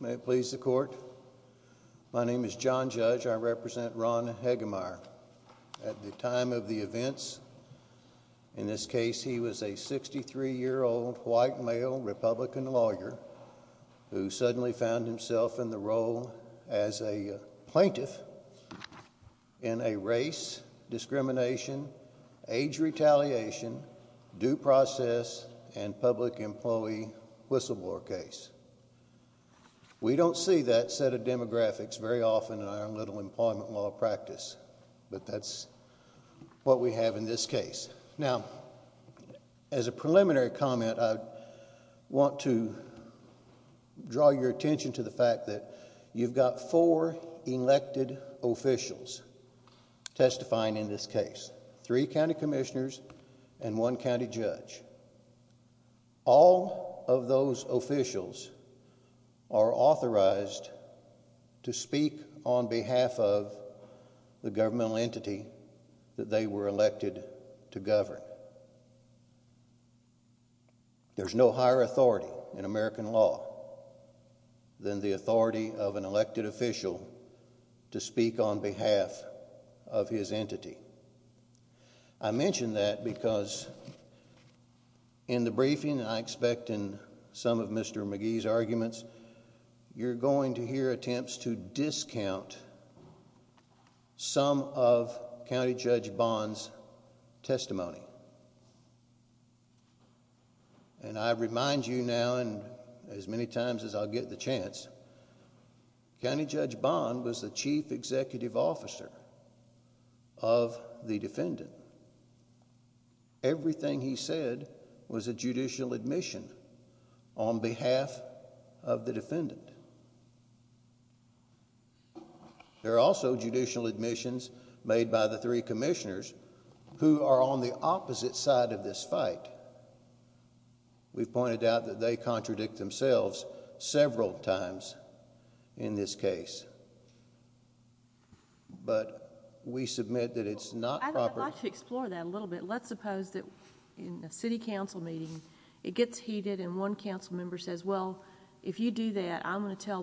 May it please the court. My name is John Judge. I represent Ron Heggemeier. At the time of the events, in this case, he was a 63-year-old white male Republican lawyer who suddenly found himself in the role as a plaintiff in a race discrimination, age retaliation, due process, and public employee whistleblower case. We don't see that set of demographics very often in our little employment law practice, but that's what we have in this case. Now, as a preliminary comment, I want to draw your attention to the fact that you've got four elected officials testifying in this case, three county commissioners and one county judge. All of those officials are authorized to speak on behalf of the governmental entity that they were elected to govern. There's no higher authority in American law than the authority of an elected official to speak on behalf of his entity. I mention that because in the briefing, I expect in some of Mr. McGee's arguments, you're going to hear attempts to discount some of County Judge Bond's testimony. I remind you now and as many times as I'll get the chance, County Judge Bond was the chief executive officer of the defendant. Everything he said was a judicial admission on behalf of the defendant. There are also judicial admissions made by the three commissioners who are on the opposite side of this fight. We've pointed out that they contradict themselves several times in this case, but we submit that it's not proper... I'm going to tell the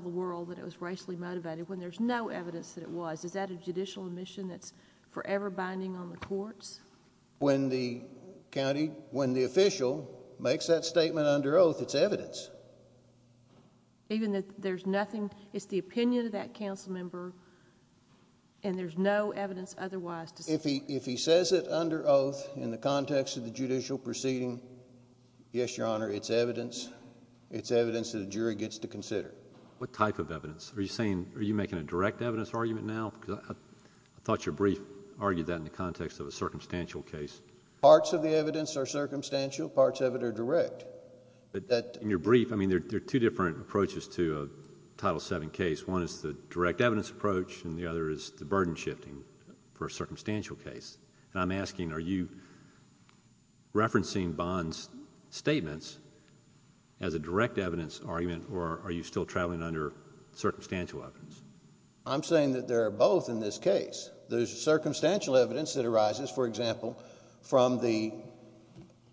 world that it was racially motivated when there's no evidence that it was. Is that a judicial admission that's forever binding on the courts? When the official makes that statement under oath, it's evidence. Even if there's nothing... it's the opinion of that council member and there's no evidence otherwise to support... If he says it under oath in the context of the judicial proceeding, yes, Your Honor, it's evidence. It's evidence that a jury gets to consider. What type of evidence? Are you making a direct evidence argument now? I thought your brief argued that in the context of a circumstantial case. Parts of the evidence are circumstantial. Parts of it are direct. In your brief, there are two different approaches to a Title VII case. One is the direct evidence approach and the other is the burden shifting for a circumstantial case. I'm asking, are you referencing Bond's statements as a direct evidence argument or are you still traveling under circumstantial evidence? I'm saying that there are both in this case. There's circumstantial evidence that arises, for example, from the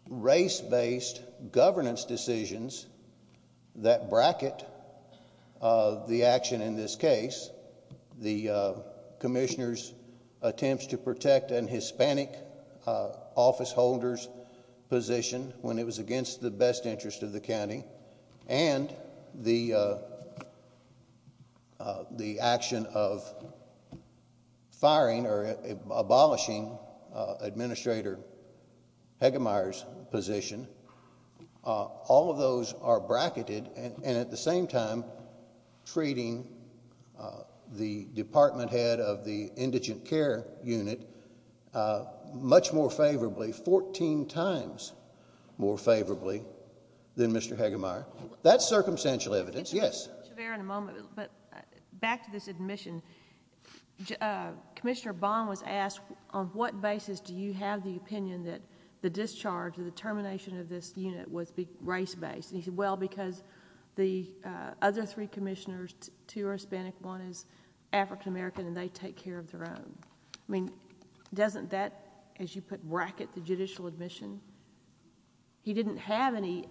race-based governance decisions that bracket the action in this case. The commissioner's attempts to protect a Hispanic officeholder's position when it was against the best interest of the county and the action of firing or abolishing Administrator Hegemeyer's position. All of those are bracketed and at the same time treating the department head of the indigent care unit much more favorably, 14 times more favorably than Mr. Hegemeyer. That's circumstantial evidence, yes. But back to this admission, Commissioner Bond was asked, on what basis do you have the opinion that the discharge or the termination of this unit was race-based? He said, well, because the other three commissioners, two are Hispanic, one is African American, and they take care of their own. I mean, doesn't that, as you put, bracket the judicial admission? He didn't have any...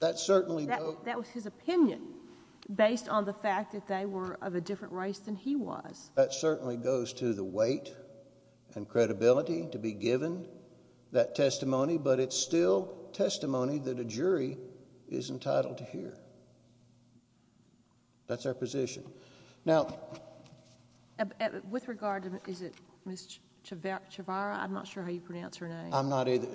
That certainly... That was his opinion based on the fact that they were of a different race than he was. That certainly goes to the weight and credibility to be given that testimony, but it's still testimony that a jury is entitled to hear. That's our position. Now... With regard to, is it Ms. Chavarria? I'm not sure how you pronounce her name. I'm not either.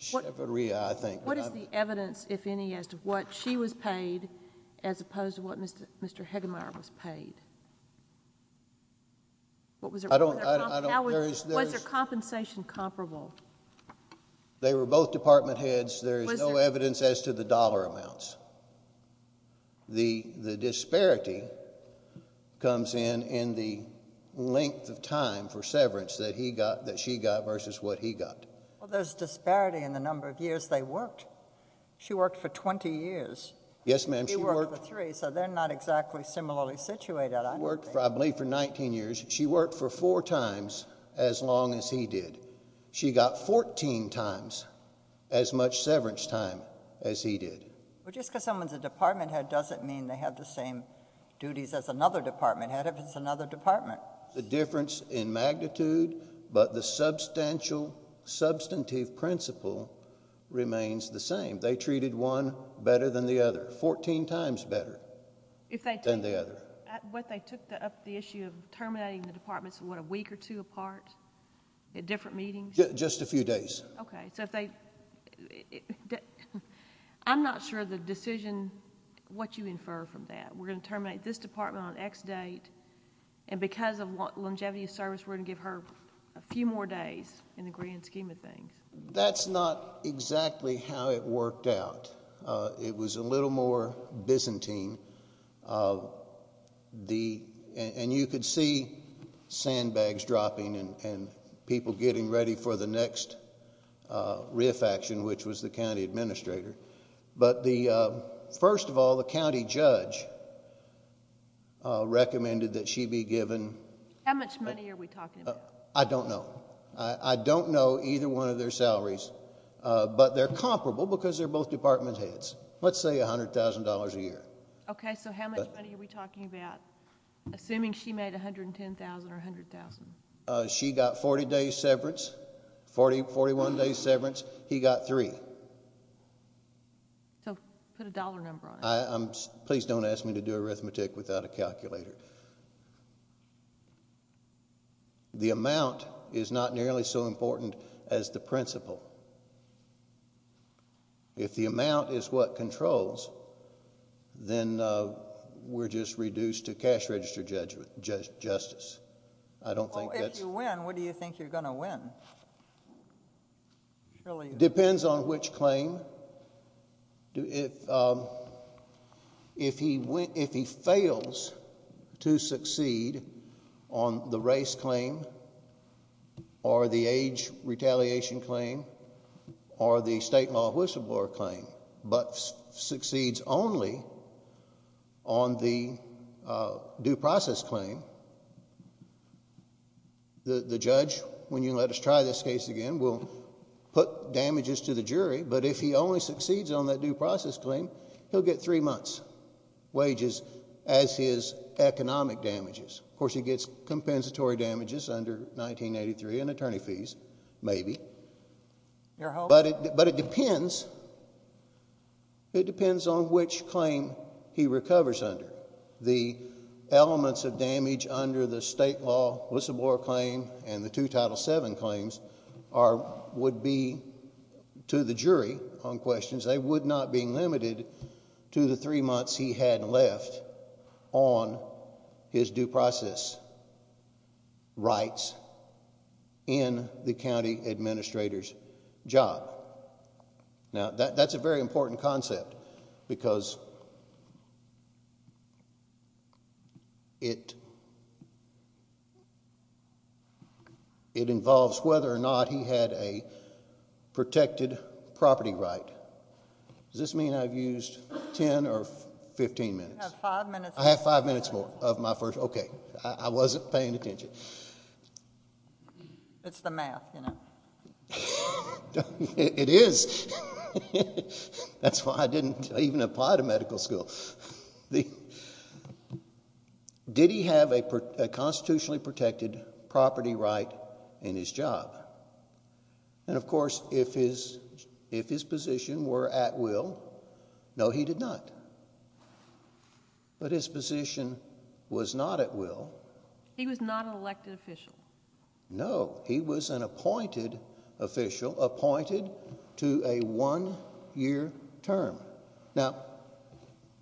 Chavarria, I think. What is the evidence, if any, as to what she was paid as opposed to what Mr. Hegemeyer was paid? What was the... I don't... Was their compensation comparable? They were both department heads. There is no evidence as to the dollar amounts. The disparity comes in in the length of time for severance that he got, that she got, versus what he got. Well, there's disparity in the number of years they worked. She worked for 20 years. Yes, ma'am, she worked... He worked for three, so they're not exactly similarly situated, I don't think. She worked, I believe, for 19 years. She worked for four times as long as he did. She got 14 times as much severance time as he did. Well, just because someone's a department head doesn't mean they have the same duties as another department head if it's another department. The difference in magnitude, but the substantive principle remains the same. They treated one better than the other, 14 times better than the other. What they took up the issue of terminating the departments, what, a week or two apart at different meetings? Just a few days. Okay, so if they... I'm not sure the decision, what you infer from that. We're going to terminate this department on X date. Because of longevity of service, we're going to give her a few more days in the grand scheme of things. That's not exactly how it worked out. It was a little more Byzantine. You could see sandbags dropping and people getting ready for the next reaffection, which was the county administrator. First of all, the county judge recommended that she be given... How much money are we talking about? I don't know. I don't know either one of their salaries, but they're comparable because they're both department heads. Let's say $100,000 a year. Okay, so how much money are we talking about, assuming she made $110,000 or $100,000? She got 40 days severance, 41 days severance. He got three. So put a dollar number on it. Please don't ask me to do arithmetic without a calculator. The amount is not nearly so important as the principle. If the amount is what controls, then we're just reduced to cash register justice. I don't think that's... It depends on which claim. If he fails to succeed on the race claim or the age retaliation claim or the state law whistleblower claim, but succeeds only on the due process claim, the judge, when you let us try this case again, will put damages to the jury, but if he only succeeds on that due process claim, he'll get three months wages as his economic damages. Of course, he gets compensatory damages under 1983 and attorney fees, maybe. Your hope... But it depends. It depends on which claim he recovers under. The elements of damage under the state law whistleblower claim and the two Title VII claims would be to the jury on questions. They would not be limited to the three months he had left on his due process rights in the county administrator's job. Now, that's a very important concept because it involves whether or not he had a protected property right. Does this mean I've used 10 or 15 minutes? You have five minutes. I have five minutes more of my first... Okay. I wasn't paying attention. It's the math, you know. It is. That's why I didn't even apply to medical school. Did he have a constitutionally protected property right in his job? And, of course, if his position were at will, no, he did not. But his position was not at will. He was not an elected official. No, he was an appointed official, appointed to a one-year term. Now,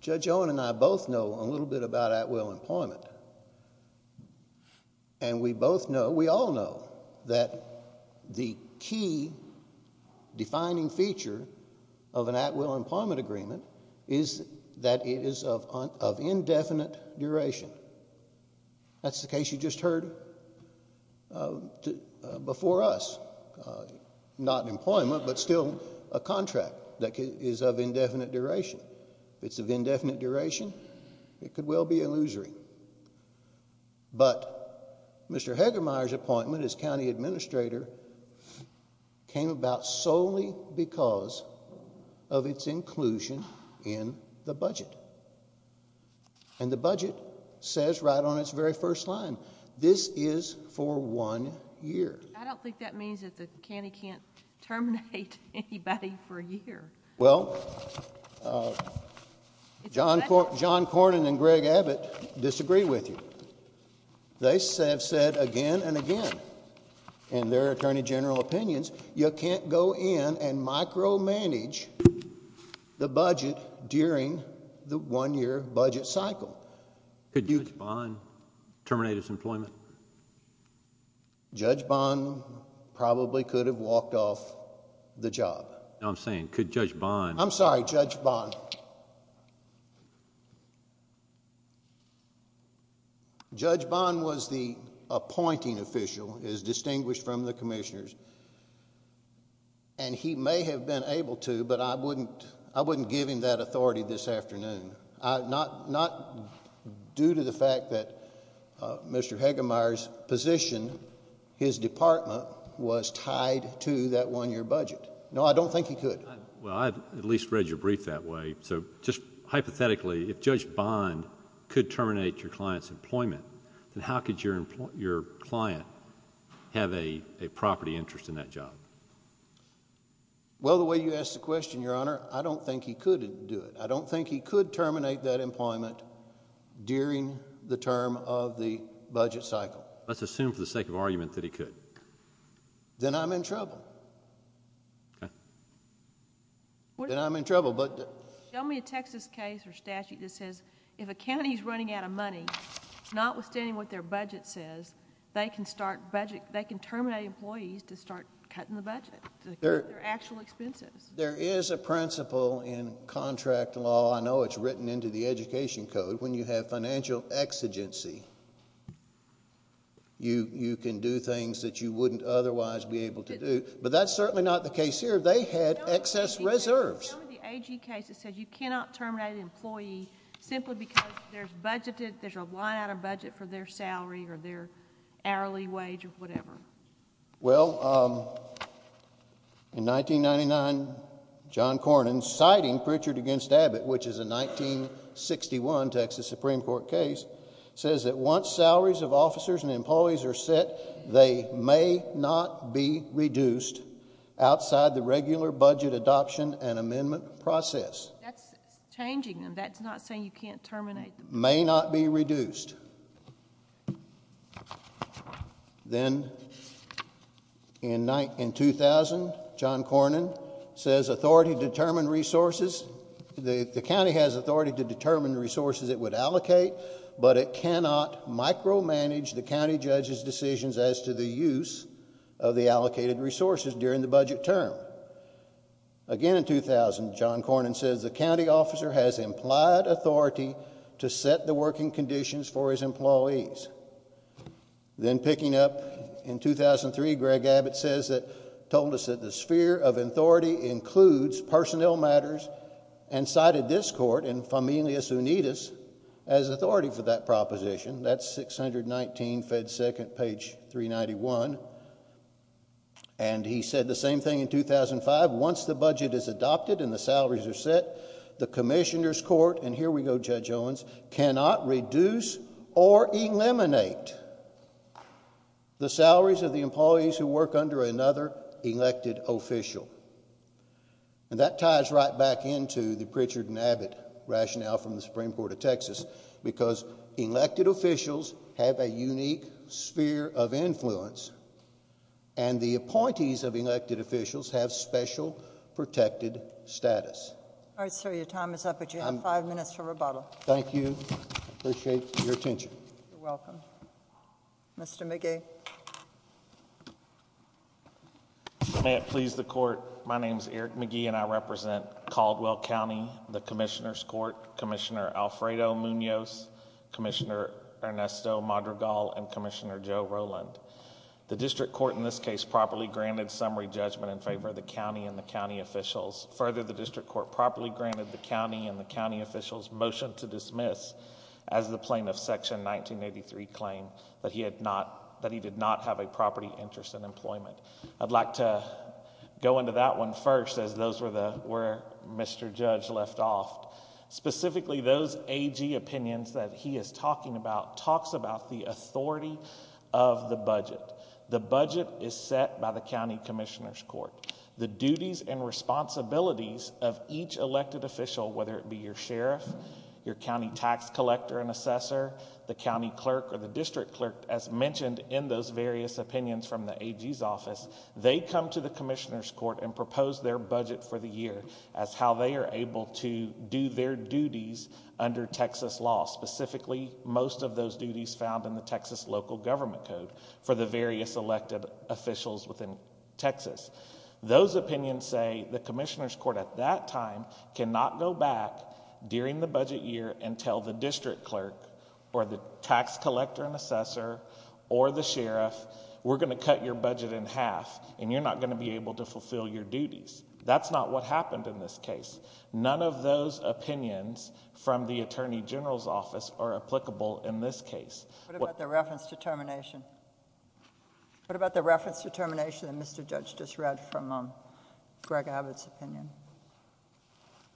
Judge Owen and I both know a little bit about at will employment. And we both know, we all know, that the key defining feature of an at will employment agreement is that it is of indefinite duration. That's the case you just heard before us. Not employment, but still a contract that is of indefinite duration. If it's of indefinite duration, it could well be illusory. But Mr. Hegemeyer's appointment as county administrator came about solely because of its inclusion in the budget. And the budget says right on its very first line, this is for one year. I don't think that means that the county can't terminate anybody for a year. Well, John Cornyn and Greg Abbott disagree with you. They have said again and again in their attorney general opinions, you can't go in and micromanage the budget during the one-year budget cycle. Could Judge Bond terminate his employment? Judge Bond probably could have walked off the job. I'm saying, could Judge Bond... I'm sorry, Judge Bond. Judge Bond was the appointing official, as distinguished from the commissioners. And he may have been able to, but I wouldn't give him that authority this afternoon. Not due to the fact that Mr. Hegemeyer's position, his department, was tied to that one-year budget. No, I don't think he could. Well, I've at least read your brief that way. So just hypothetically, if Judge Bond could terminate your client's employment, then how could your client have a property interest in that job? Well, the way you asked the question, Your Honor, I don't think he could do it. I don't think he could terminate that employment during the term of the budget cycle. Let's assume for the sake of argument that he could. Then I'm in trouble. Then I'm in trouble. Show me a Texas case or statute that says if a county is running out of money, notwithstanding what their budget says, they can terminate employees to start cutting the budget, their actual expenses. There is a principle in contract law. I know it's written into the education code. When you have financial exigency, you can do things that you wouldn't otherwise be able to do, but that's certainly not the case here. They had excess reserves. Show me the AG case that says you cannot terminate an employee simply because there's a line out of budget for their salary or their hourly wage or whatever. Well, in 1999, John Cornyn, citing Pritchard v. Abbott, which is a 1961 Texas Supreme Court case, says that once salaries of officers and employees are set, they may not be reduced outside the regular budget adoption and amendment process. That's changing them. That's not saying you can't terminate them. May not be reduced. Then in 2000, John Cornyn says authority to determine resources. The county has authority to determine resources it would allocate, but it cannot micromanage the county judge's decisions as to the use of the allocated resources during the budget term. Again in 2000, John Cornyn says the county officer has implied authority to set the working conditions for his employees. Then picking up in 2003, Greg Abbott told us that the sphere of authority includes personnel matters and cited this court in Familius Unitas as authority for that proposition. That's 619 Fed Second, page 391. And he said the same thing in 2005. Once the budget is adopted and the salaries are set, the commissioner's court, and here we go, Judge Owens, cannot reduce or eliminate the salaries of the employees who work under another elected official. And that ties right back into the Pritchard v. Abbott rationale from the Supreme Court of Texas because elected officials have a unique sphere of influence and the appointees of elected officials have special protected status. All right, sir, your time is up, but you have five minutes for rebuttal. Thank you. I appreciate your attention. You're welcome. Mr. McGee. May it please the court, my name is Eric McGee and I represent Caldwell County, the commissioner's court, Commissioner Alfredo Munoz, Commissioner Ernesto Madrigal, and Commissioner Joe Rowland. The district court in this case properly granted summary judgment in favor of the county and the county officials. Further, the district court properly granted the county and the county officials' motion to dismiss as the plaintiff's section 1983 claim that he did not have a property interest in employment. I'd like to go into that one first as those were where Mr. Judge left off. Specifically, those AG opinions that he is talking about talks about the authority of the budget. The budget is set by the county commissioner's court. The duties and responsibilities of each elected official, whether it be your sheriff, your county tax collector and assessor, the county clerk or the district clerk, as mentioned in those various opinions from the AG's office, they come to the commissioner's court and propose their budget for the year as how they are able to do their duties under Texas law. Specifically, most of those duties found in the Texas local government code for the various elected officials within Texas. Those opinions say the commissioner's court at that time cannot go back during the budget year and tell the district clerk or the tax collector and assessor or the sheriff, we're going to cut your budget in half and you're not going to be able to fulfill your duties. That's not what happened in this case. None of those opinions from the attorney general's office are applicable in this case. What about the reference to termination? What about the reference to termination that Mr. Judge just read from Greg Abbott's opinion?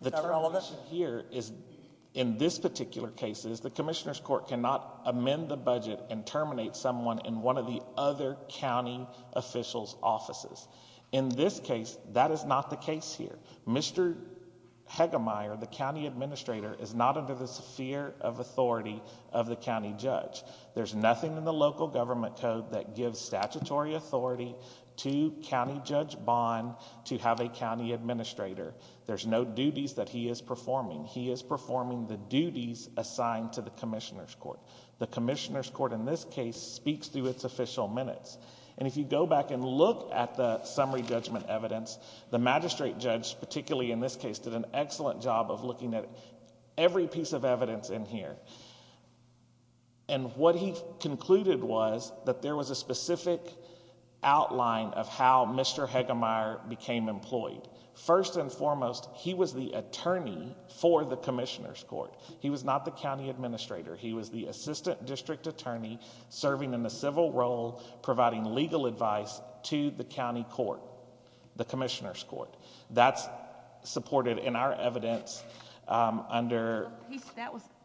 The termination here is in this particular case is the commissioner's court cannot amend the budget and terminate someone in one of the other county officials' offices. In this case, that is not the case here. Mr. Hegemeyer, the county administrator, is not under the sphere of authority of the county judge. There's nothing in the local government code that gives statutory authority to county judge Bond to have a county administrator. There's no duties that he is performing. He is performing the duties assigned to the commissioner's court. The commissioner's court in this case speaks through its official minutes. And if you go back and look at the summary judgment evidence, the magistrate judge, particularly in this case, did an excellent job of looking at every piece of evidence in here. And what he concluded was that there was a specific outline of how Mr. Hegemeyer became employed. First and foremost, he was the attorney for the commissioner's court. He was not the county administrator. He was the assistant district attorney serving in a civil role, providing legal advice to the county court, the commissioner's court. That's supported in our evidence under...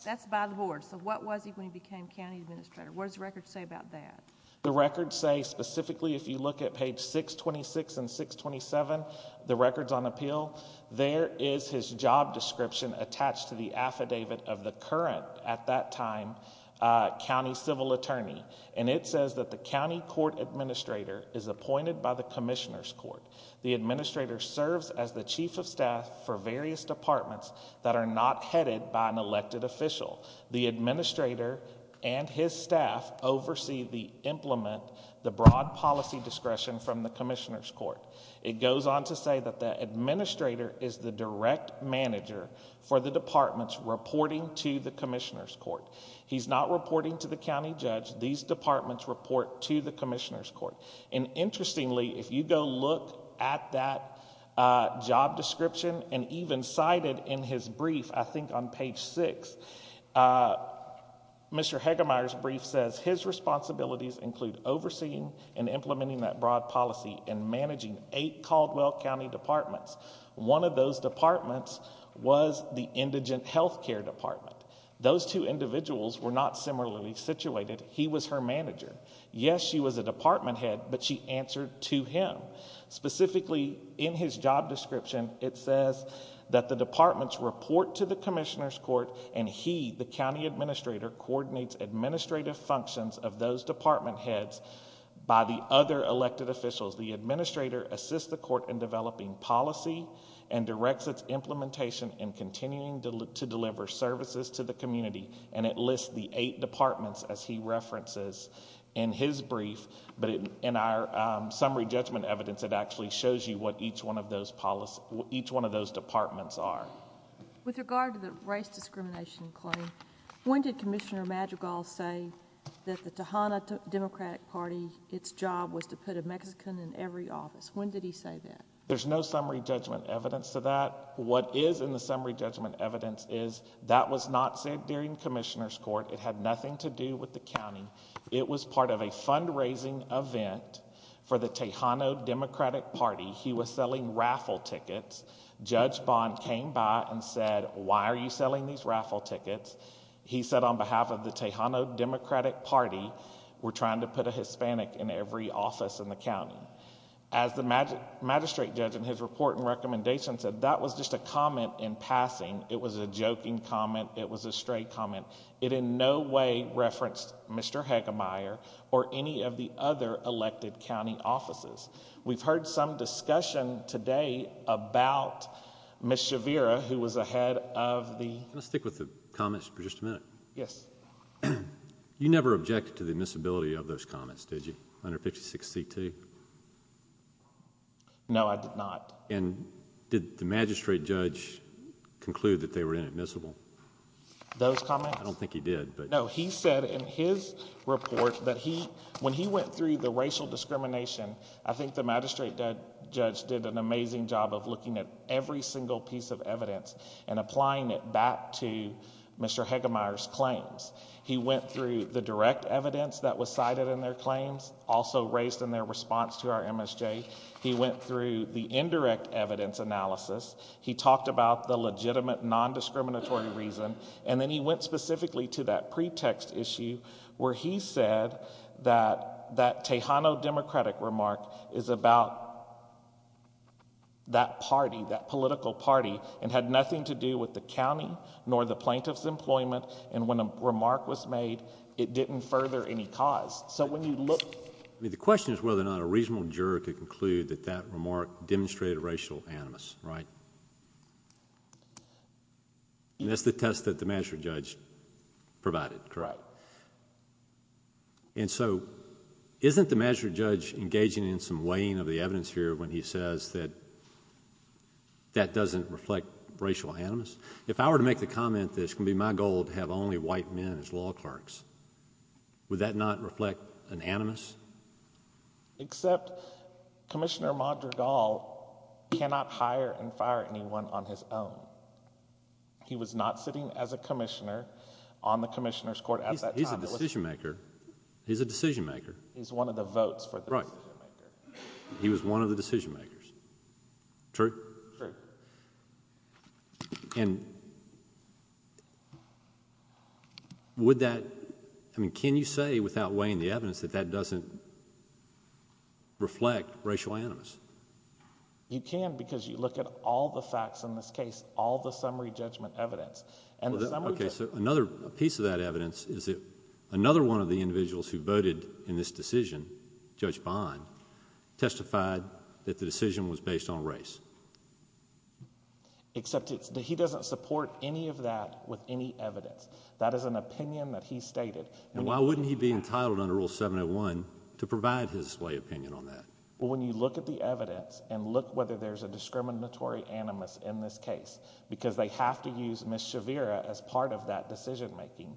That's by the board. So what was he when he became county administrator? What does the record say about that? The records say, specifically, if you look at page 626 and 627, the records on appeal, there is his job description attached to the affidavit of the current, at that time, county civil attorney. And it says that the county court administrator is appointed by the commissioner's court. The administrator serves as the chief of staff for various departments that are not headed by an elected official. The administrator and his staff oversee the implement, the broad policy discretion from the commissioner's court. It goes on to say that the administrator is the direct manager for the departments reporting to the commissioner's court. He's not reporting to the county judge. These departments report to the commissioner's court. And interestingly, if you go look at that job description and even cite it in his brief, I think on page 6, Mr. Hegemeyer's brief says his responsibilities include overseeing and implementing that broad policy and managing eight Caldwell County departments. One of those departments was the indigent health care department. Those two individuals were not similarly situated. He was her manager. Yes, she was a department head, but she answered to him. Specifically, in his job description, it says that the departments report to the commissioner's court and he, the county administrator, coordinates administrative functions of those department heads by the other elected officials. The administrator assists the court in developing policy and directs its implementation and continuing to deliver services to the community. And it lists the eight departments, as he references in his brief. But in our summary judgment evidence, it actually shows you what each one of those departments are. With regard to the race discrimination claim, when did Commissioner Madrigal say that the Tejana Democratic Party, its job was to put a Mexican in every office? When did he say that? There's no summary judgment evidence to that. What is in the summary judgment evidence is that was not said during commissioner's court. It had nothing to do with the county. It was part of a fundraising event for the Tejano Democratic Party. He was selling raffle tickets. Judge Bond came by and said, why are you selling these raffle tickets? He said on behalf of the Tejano Democratic Party, we're trying to put a Hispanic in every office in the county. As the magistrate judge in his report and recommendation said, that was just a comment in passing. It was a joking comment. It was a straight comment. It in no way referenced Mr. Hegemeyer or any of the other elected county offices. We've heard some discussion today about Ms. Shavira, who was a head of the... Can I stick with the comments for just a minute? Yes. You never objected to the admissibility of those comments, did you, under 56C2? No, I did not. Did the magistrate judge conclude that they were inadmissible? Those comments? I don't think he did, but... No, he said in his report that when he went through the racial discrimination, I think the magistrate judge did an amazing job of looking at every single piece of evidence and applying it back to Mr. Hegemeyer's claims. He went through the direct evidence that was cited in their claims, also raised in their response to our MSJ. He went through the indirect evidence analysis. He talked about the legitimate, non-discriminatory reason. And then he went specifically to that pretext issue, where he said that that Tejano Democratic remark is about that party, that political party, and had nothing to do with the county nor the plaintiff's employment. And when a remark was made, it didn't further any cause. So when you look... The question is whether or not a reasonable juror could conclude that that remark demonstrated racial animus, right? And that's the test that the magistrate judge provided. Correct. And so, isn't the magistrate judge engaging in some weighing of the evidence here when he says that that doesn't reflect racial animus? If I were to make the comment that it's going to be my goal to have only white men as law clerks, would that not reflect an animus? Except Commissioner Mondragal cannot hire and fire anyone on his own. He was not sitting as a commissioner on the commissioner's court at that time. He's a decision maker. He's a decision maker. He's one of the votes for the decision maker. Right. He was one of the decision makers. True? True. And would that... I mean, can you say without weighing the evidence that that doesn't reflect racial animus? You can because you look at all the facts in this case, all the summary judgment evidence. And the summary... Okay, so another piece of that evidence is that another one of the individuals who voted in this decision, Judge Bond, testified that the decision was based on race. Except he doesn't support any of that with any evidence. That is an opinion that he stated. And why wouldn't he be entitled under Rule 701 to provide his lay opinion on that? Well, when you look at the evidence and look whether there's a discriminatory animus in this case because they have to use Ms. Shavira as part of that decision making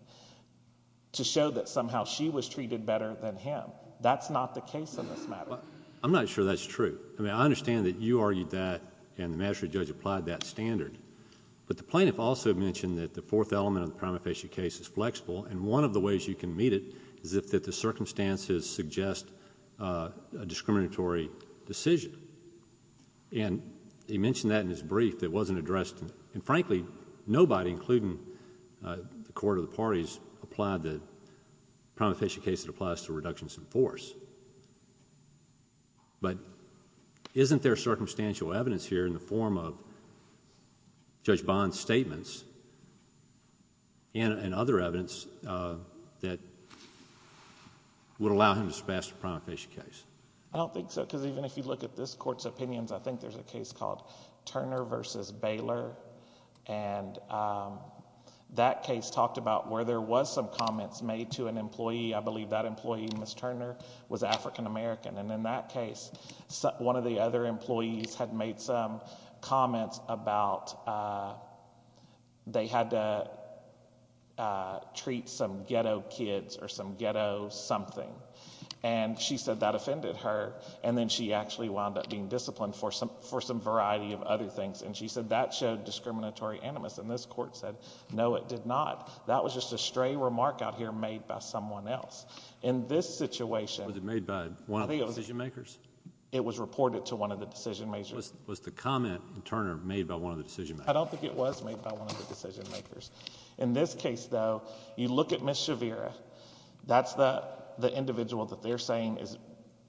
to show that somehow she was treated better than him. That's not the case in this matter. I'm not sure that's true. I mean, I understand that you argued that and the magistrate judge applied that standard. But the plaintiff also mentioned that the fourth element of the prima facie case is flexible. And one of the ways you can meet it is if the circumstances suggest a discriminatory decision. And he mentioned that in his brief that wasn't addressed. And frankly, nobody, including the court or the parties, applied the prima facie case that applies to reductions in force. But isn't there circumstantial evidence here in the form of Judge Bond's statements and other evidence that would allow him to surpass the prima facie case? I don't think so because even if you look at this court's opinions, I think there's a case called Turner v. Baylor. And that case talked about where there was some comments made to an employee. I believe that employee, Ms. Turner, was African American. And in that case, one of the other employees had made some comments about they had to treat some ghetto kids or some ghetto something. And she said that offended her. And then she actually wound up being disciplined for some variety of other things. And she said that showed discriminatory animus. And this court said, no, it did not. That was just a stray remark out here made by someone else. In this situation. Was it made by one of the decision makers? It was reported to one of the decision makers. Was the comment in Turner made by one of the decision makers? I don't think it was made by one of the decision makers. In this case, though, you look at Ms. Shavira. That's the individual that they're saying is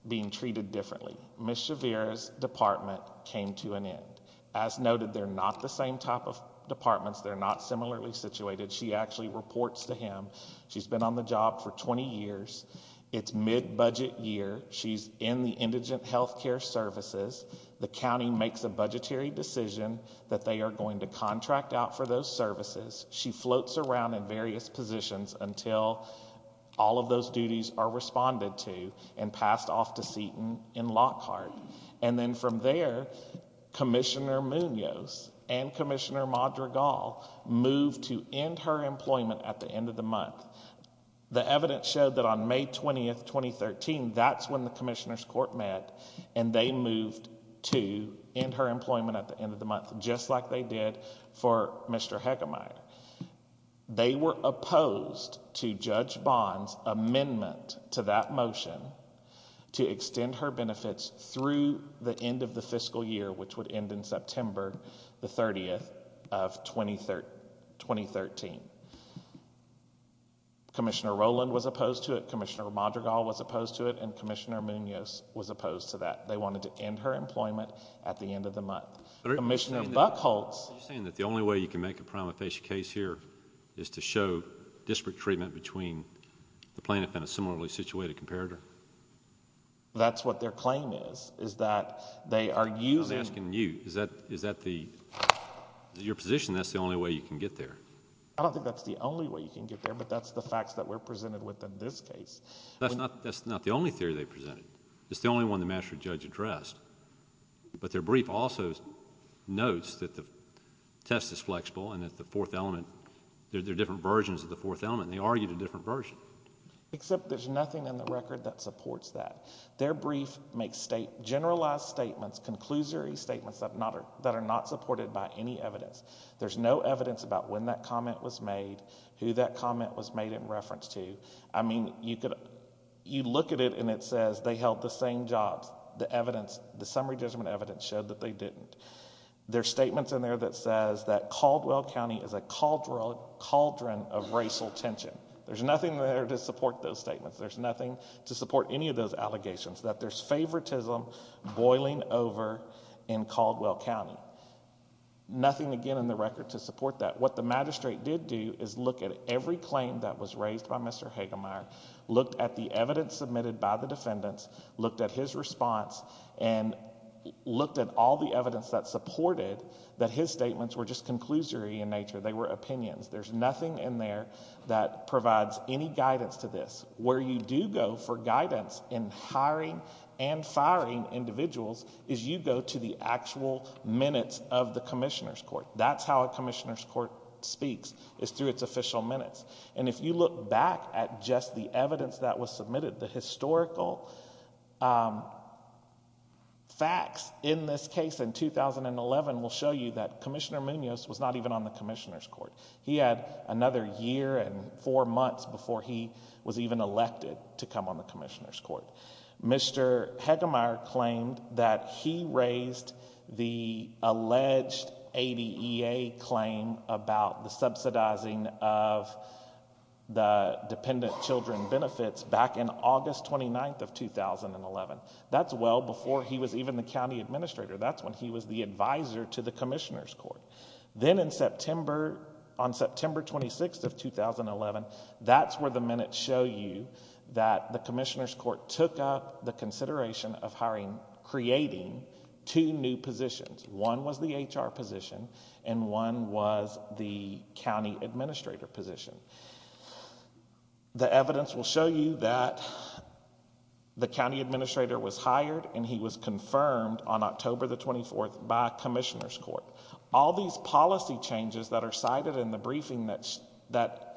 being treated differently. Ms. Shavira's department came to an end. As noted, they're not the same type of departments. They're not similarly situated. She actually reports to him. She's been on the job for 20 years. It's mid-budget year. She's in the indigent health care services. The county makes a budgetary decision that they are going to contract out for those services. She floats around in various positions until all of those duties are responded to and passed off to Seton in Lockhart. And then from there, Commissioner Munoz and Commissioner Madrigal moved to end her employment at the end of the month. The evidence showed that on May 20th, 2013, that's when the commissioner's court met, and they moved to end her employment at the end of the month, just like they did for Mr. Heckemeyer. They were opposed to Judge Bond's amendment to that motion to extend her benefits through the end of the fiscal year, which would end in September the 30th of 2013. Commissioner Rowland was opposed to it. Commissioner Madrigal was opposed to it. And Commissioner Munoz was opposed to that. They wanted to end her employment at the end of the month. You're saying that the only way you can make a prima facie case here is to show disparate treatment between the plaintiff and a similarly situated comparator? That's what their claim is, is that they are using— I'm asking you. Is that your position that's the only way you can get there? I don't think that's the only way you can get there, but that's the facts that we're presented with in this case. That's not the only theory they presented. It's the only one the master judge addressed. But their brief also notes that the test is flexible and that the fourth element— they're different versions of the fourth element. They argued a different version. Except there's nothing in the record that supports that. Their brief makes generalized statements, conclusory statements that are not supported by any evidence. There's no evidence about when that comment was made, who that comment was made in reference to. I mean, you look at it and it says they held the same jobs. The summary judgment evidence showed that they didn't. There are statements in there that says that Caldwell County is a cauldron of racial tension. There's nothing there to support those statements. There's nothing to support any of those allegations, that there's favoritism boiling over in Caldwell County. Nothing, again, in the record to support that. What the magistrate did do is look at every claim that was raised by Mr. Hagemeyer, looked at the evidence submitted by the defendants, looked at his response, and looked at all the evidence that supported that his statements were just conclusory in nature. They were opinions. There's nothing in there that provides any guidance to this. Where you do go for guidance in hiring and firing individuals is you go to the actual minutes of the commissioner's court. That's how a commissioner's court speaks, is through its official minutes. And if you look back at just the evidence that was submitted, the historical facts in this case in 2011 will show you that Commissioner Munoz was not even on the commissioner's court. He had another year and four months before he was even elected to come on the commissioner's court. Mr. Hagemeyer claimed that he raised the alleged ADEA claim about the subsidizing of the dependent children benefits back in August 29th of 2011. That's well before he was even the county administrator. That's when he was the advisor to the commissioner's court. Then in September, on September 26th of 2011, that's where the minutes show you that the commissioner's court took up the consideration of hiring, creating two new positions. One was the HR position, and one was the county administrator position. The evidence will show you that the county administrator was hired, and he was confirmed on October 24th by a commissioner's court. All these policy changes that are cited in the briefing that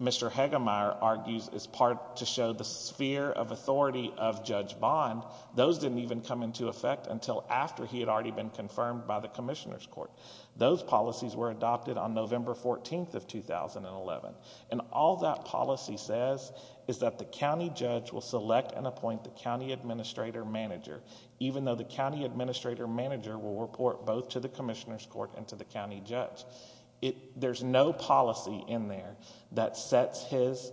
Mr. Hagemeyer argues is part to show the sphere of authority of Judge Bond, those didn't even come into effect until after he had already been confirmed by the commissioner's court. Those policies were adopted on November 14th of 2011. And all that policy says is that the county judge will select and appoint the county administrator manager, even though the county administrator manager will report both to the commissioner's court and to the county judge. There's no policy in there that sets his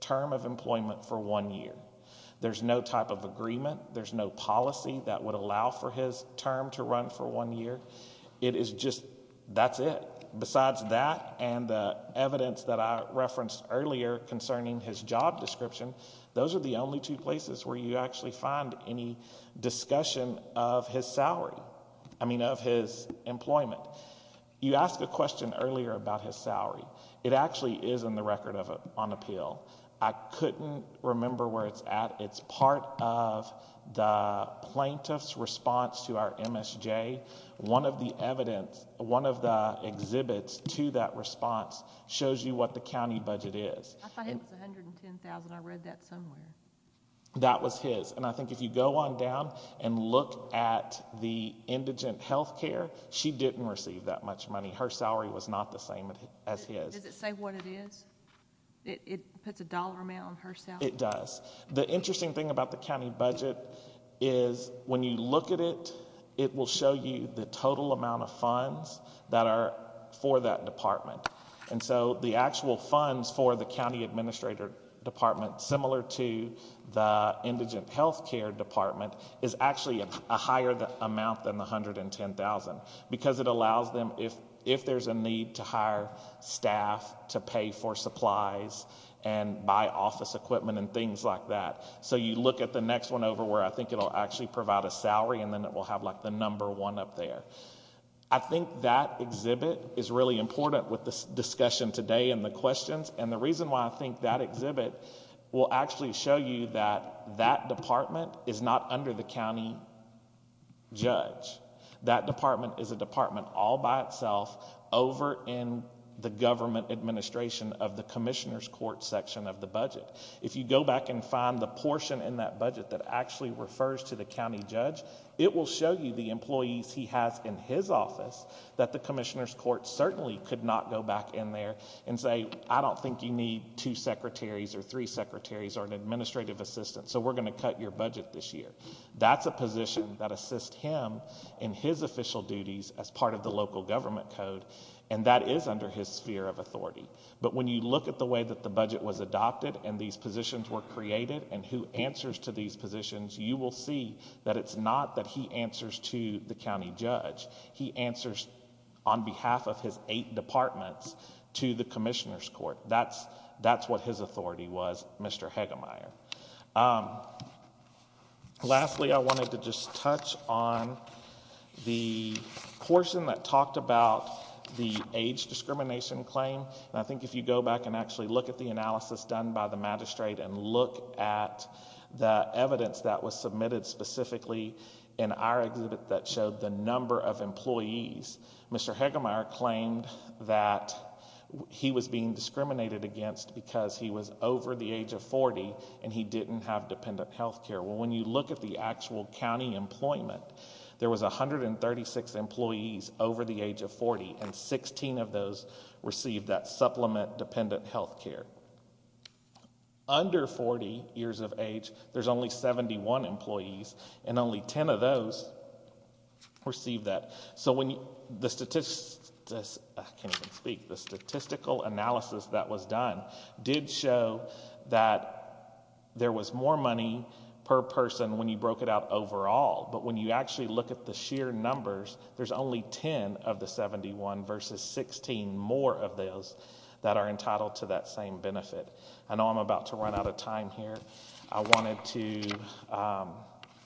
term of employment for one year. There's no type of agreement. There's no policy that would allow for his term to run for one year. It is just, that's it. Besides that and the evidence that I referenced earlier concerning his job description, those are the only two places where you actually find any discussion of his salary, I mean of his employment. You asked a question earlier about his salary. It actually is in the record on appeal. I couldn't remember where it's at. It's part of the plaintiff's response to our MSJ. One of the evidence, one of the exhibits to that response shows you what the county budget is. I thought it was $110,000. I read that somewhere. That was his. And I think if you go on down and look at the indigent health care, she didn't receive that much money. Her salary was not the same as his. Does it say what it is? It puts a dollar amount on her salary? It does. The interesting thing about the county budget is when you look at it, it will show you the total amount of funds that are for that department. And so the actual funds for the county administrator department, similar to the indigent health care department, is actually a higher amount than the $110,000 because it allows them, if there's a need to hire staff to pay for supplies and buy office equipment and things like that. So you look at the next one over where I think it will actually provide a salary, and then it will have like the number one up there. I think that exhibit is really important with this discussion today and the questions. And the reason why I think that exhibit will actually show you that that department is not under the county judge. That department is a department all by itself over in the government administration of the commissioner's court section of the budget. If you go back and find the portion in that budget that actually refers to the county judge, it will show you the employees he has in his office that the commissioner's court certainly could not go back in there and say, I don't think you need two secretaries or three secretaries or an administrative assistant, so we're going to cut your budget this year. That's a position that assists him in his official duties as part of the local government code, and that is under his sphere of authority. But when you look at the way that the budget was adopted and these positions were created and who answers to these positions, you will see that it's not that he answers to the county judge. He answers on behalf of his eight departments to the commissioner's court. That's what his authority was, Mr. Hegemeyer. Lastly, I wanted to just touch on the portion that talked about the age discrimination claim. I think if you go back and actually look at the analysis done by the magistrate and look at the evidence that was submitted specifically in our exhibit that showed the number of employees, Mr. Hegemeyer claimed that he was being discriminated against because he was over the age of 40 and he didn't have dependent health care. Well, when you look at the actual county employment, there was 136 employees over the age of 40, and 16 of those received that supplement dependent health care. Under 40 years of age, there's only 71 employees, and only 10 of those received that. So the statistical analysis that was done did show that there was more money per person when you broke it out overall, but when you actually look at the sheer numbers, there's only 10 of the 71 versus 16 more of those that are entitled to that same benefit. I know I'm about to run out of time here. I wanted to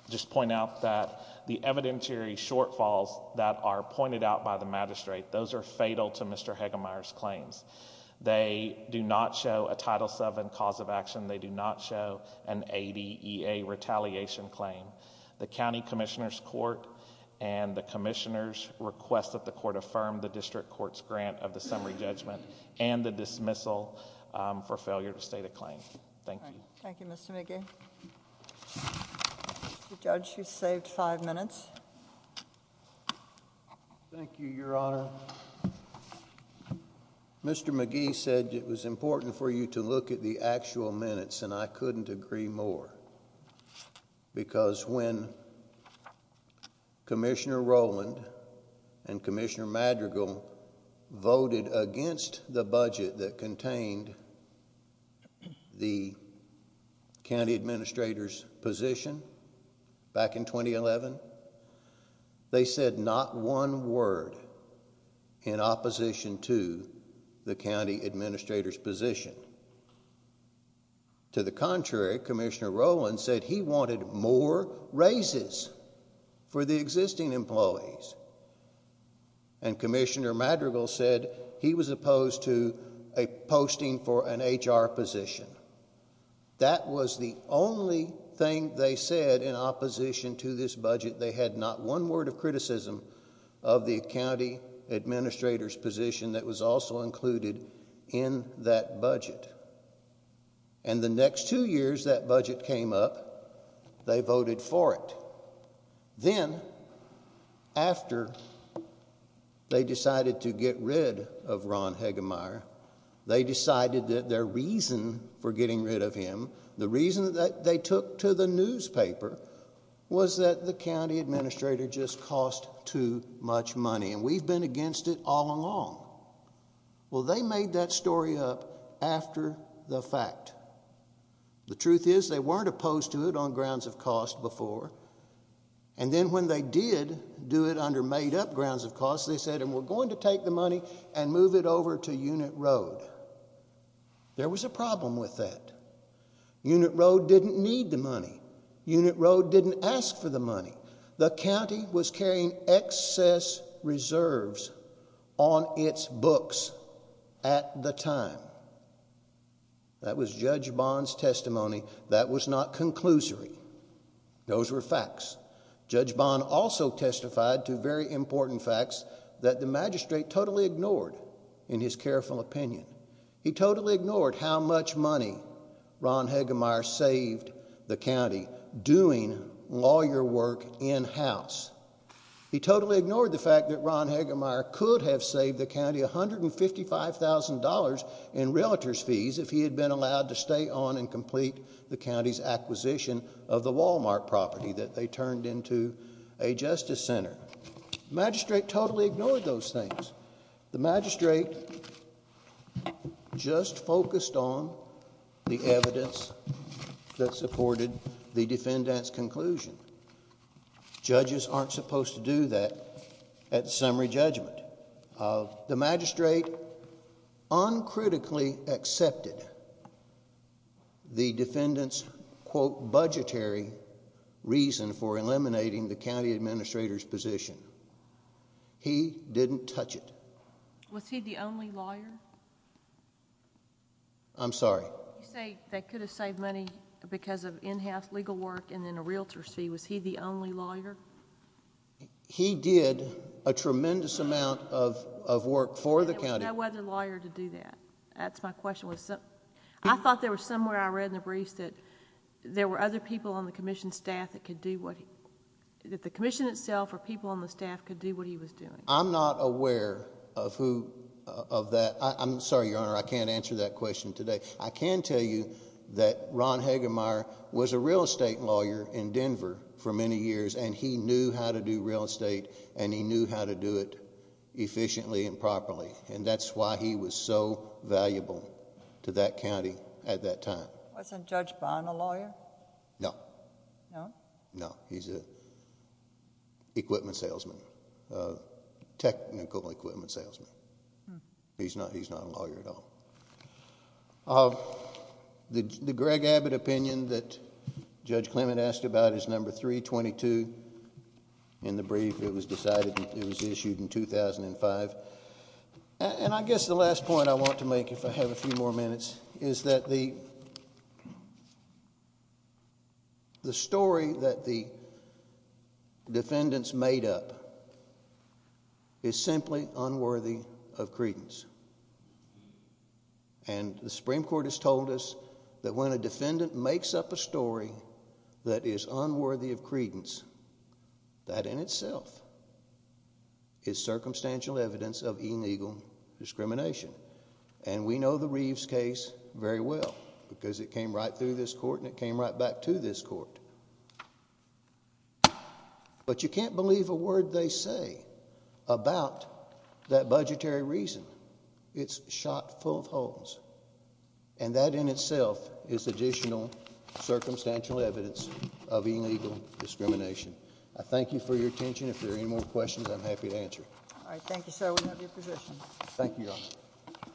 just point out that the evidentiary shortfalls that are pointed out by the magistrate, those are fatal to Mr. Hegemeyer's claims. They do not show a Title VII cause of action. They do not show an ADEA retaliation claim. The county commissioner's court and the commissioner's request that the court affirm the district court's grant of the summary judgment and the dismissal for failure to state a claim. Thank you. Thank you, Mr. McGee. Judge, you saved five minutes. Thank you, Your Honor. Mr. McGee said it was important for you to look at the actual minutes, and I couldn't agree more because when Commissioner Rowland and Commissioner Madrigal voted against the budget that contained the county administrator's position back in 2011, they said not one word in opposition to the county administrator's position. To the contrary, Commissioner Rowland said he wanted more raises for the existing employees, and Commissioner Madrigal said he was opposed to a posting for an HR position. That was the only thing they said in opposition to this budget. They had not one word of criticism of the county administrator's position that was also included in that budget. And the next two years that budget came up, they voted for it. Then, after they decided to get rid of Ron Hegemeyer, they decided that their reason for getting rid of him, the reason that they took to the newspaper, was that the county administrator just cost too much money, and we've been against it all along. Well, they made that story up after the fact. The truth is they weren't opposed to it on grounds of cost before, and then when they did do it under made-up grounds of cost, they said, and we're going to take the money and move it over to Unit Road. There was a problem with that. Unit Road didn't need the money. Unit Road didn't ask for the money. The county was carrying excess reserves on its books at the time. That was Judge Bond's testimony. That was not conclusory. Those were facts. Judge Bond also testified to very important facts that the magistrate totally ignored in his careful opinion. He totally ignored how much money Ron Hegemeyer saved the county doing lawyer work in-house. He totally ignored the fact that Ron Hegemeyer could have saved the county $155,000 in relatives' fees if he had been allowed to stay on and complete the county's acquisition of the Walmart property that they turned into a justice center. The magistrate totally ignored those things. The magistrate just focused on the evidence that supported the defendant's conclusion. Judges aren't supposed to do that at summary judgment. The magistrate uncritically accepted the defendant's, quote, budgetary reason for eliminating the county administrator's position. He didn't touch it. Was he the only lawyer? I'm sorry? You say they could have saved money because of in-house legal work and then a realtor's fee. Was he the only lawyer? He did a tremendous amount of work for the county. There was no other lawyer to do that. That's my question. I thought there was somewhere I read in the briefs that there were other people on the commission staff that could do what he was doing. I'm not aware of that. I'm sorry, Your Honor. I can't answer that question today. I can tell you that Ron Hagemeyer was a real estate lawyer in Denver for many years, and he knew how to do real estate and he knew how to do it efficiently and properly, and that's why he was so valuable to that county at that time. Wasn't Judge Brown a lawyer? No. No? No. He's an equipment salesman, a technical equipment salesman. He's not a lawyer at all. The Greg Abbott opinion that Judge Clement asked about is number 322 in the brief. It was decided it was issued in 2005. And I guess the last point I want to make, if I have a few more minutes, is that the story that the defendant's made up is simply unworthy of credence. And the Supreme Court has told us that when a defendant makes up a story that is unworthy of credence, that in itself is circumstantial evidence of illegal discrimination. And we know the Reeves case very well because it came right through this court and it came right back to this court. But you can't believe a word they say about that budgetary reason. It's shot full of holes. And that in itself is additional circumstantial evidence of illegal discrimination. I thank you for your attention. If there are any more questions, I'm happy to answer. All right. Thank you, sir. Thank you, Your Honor.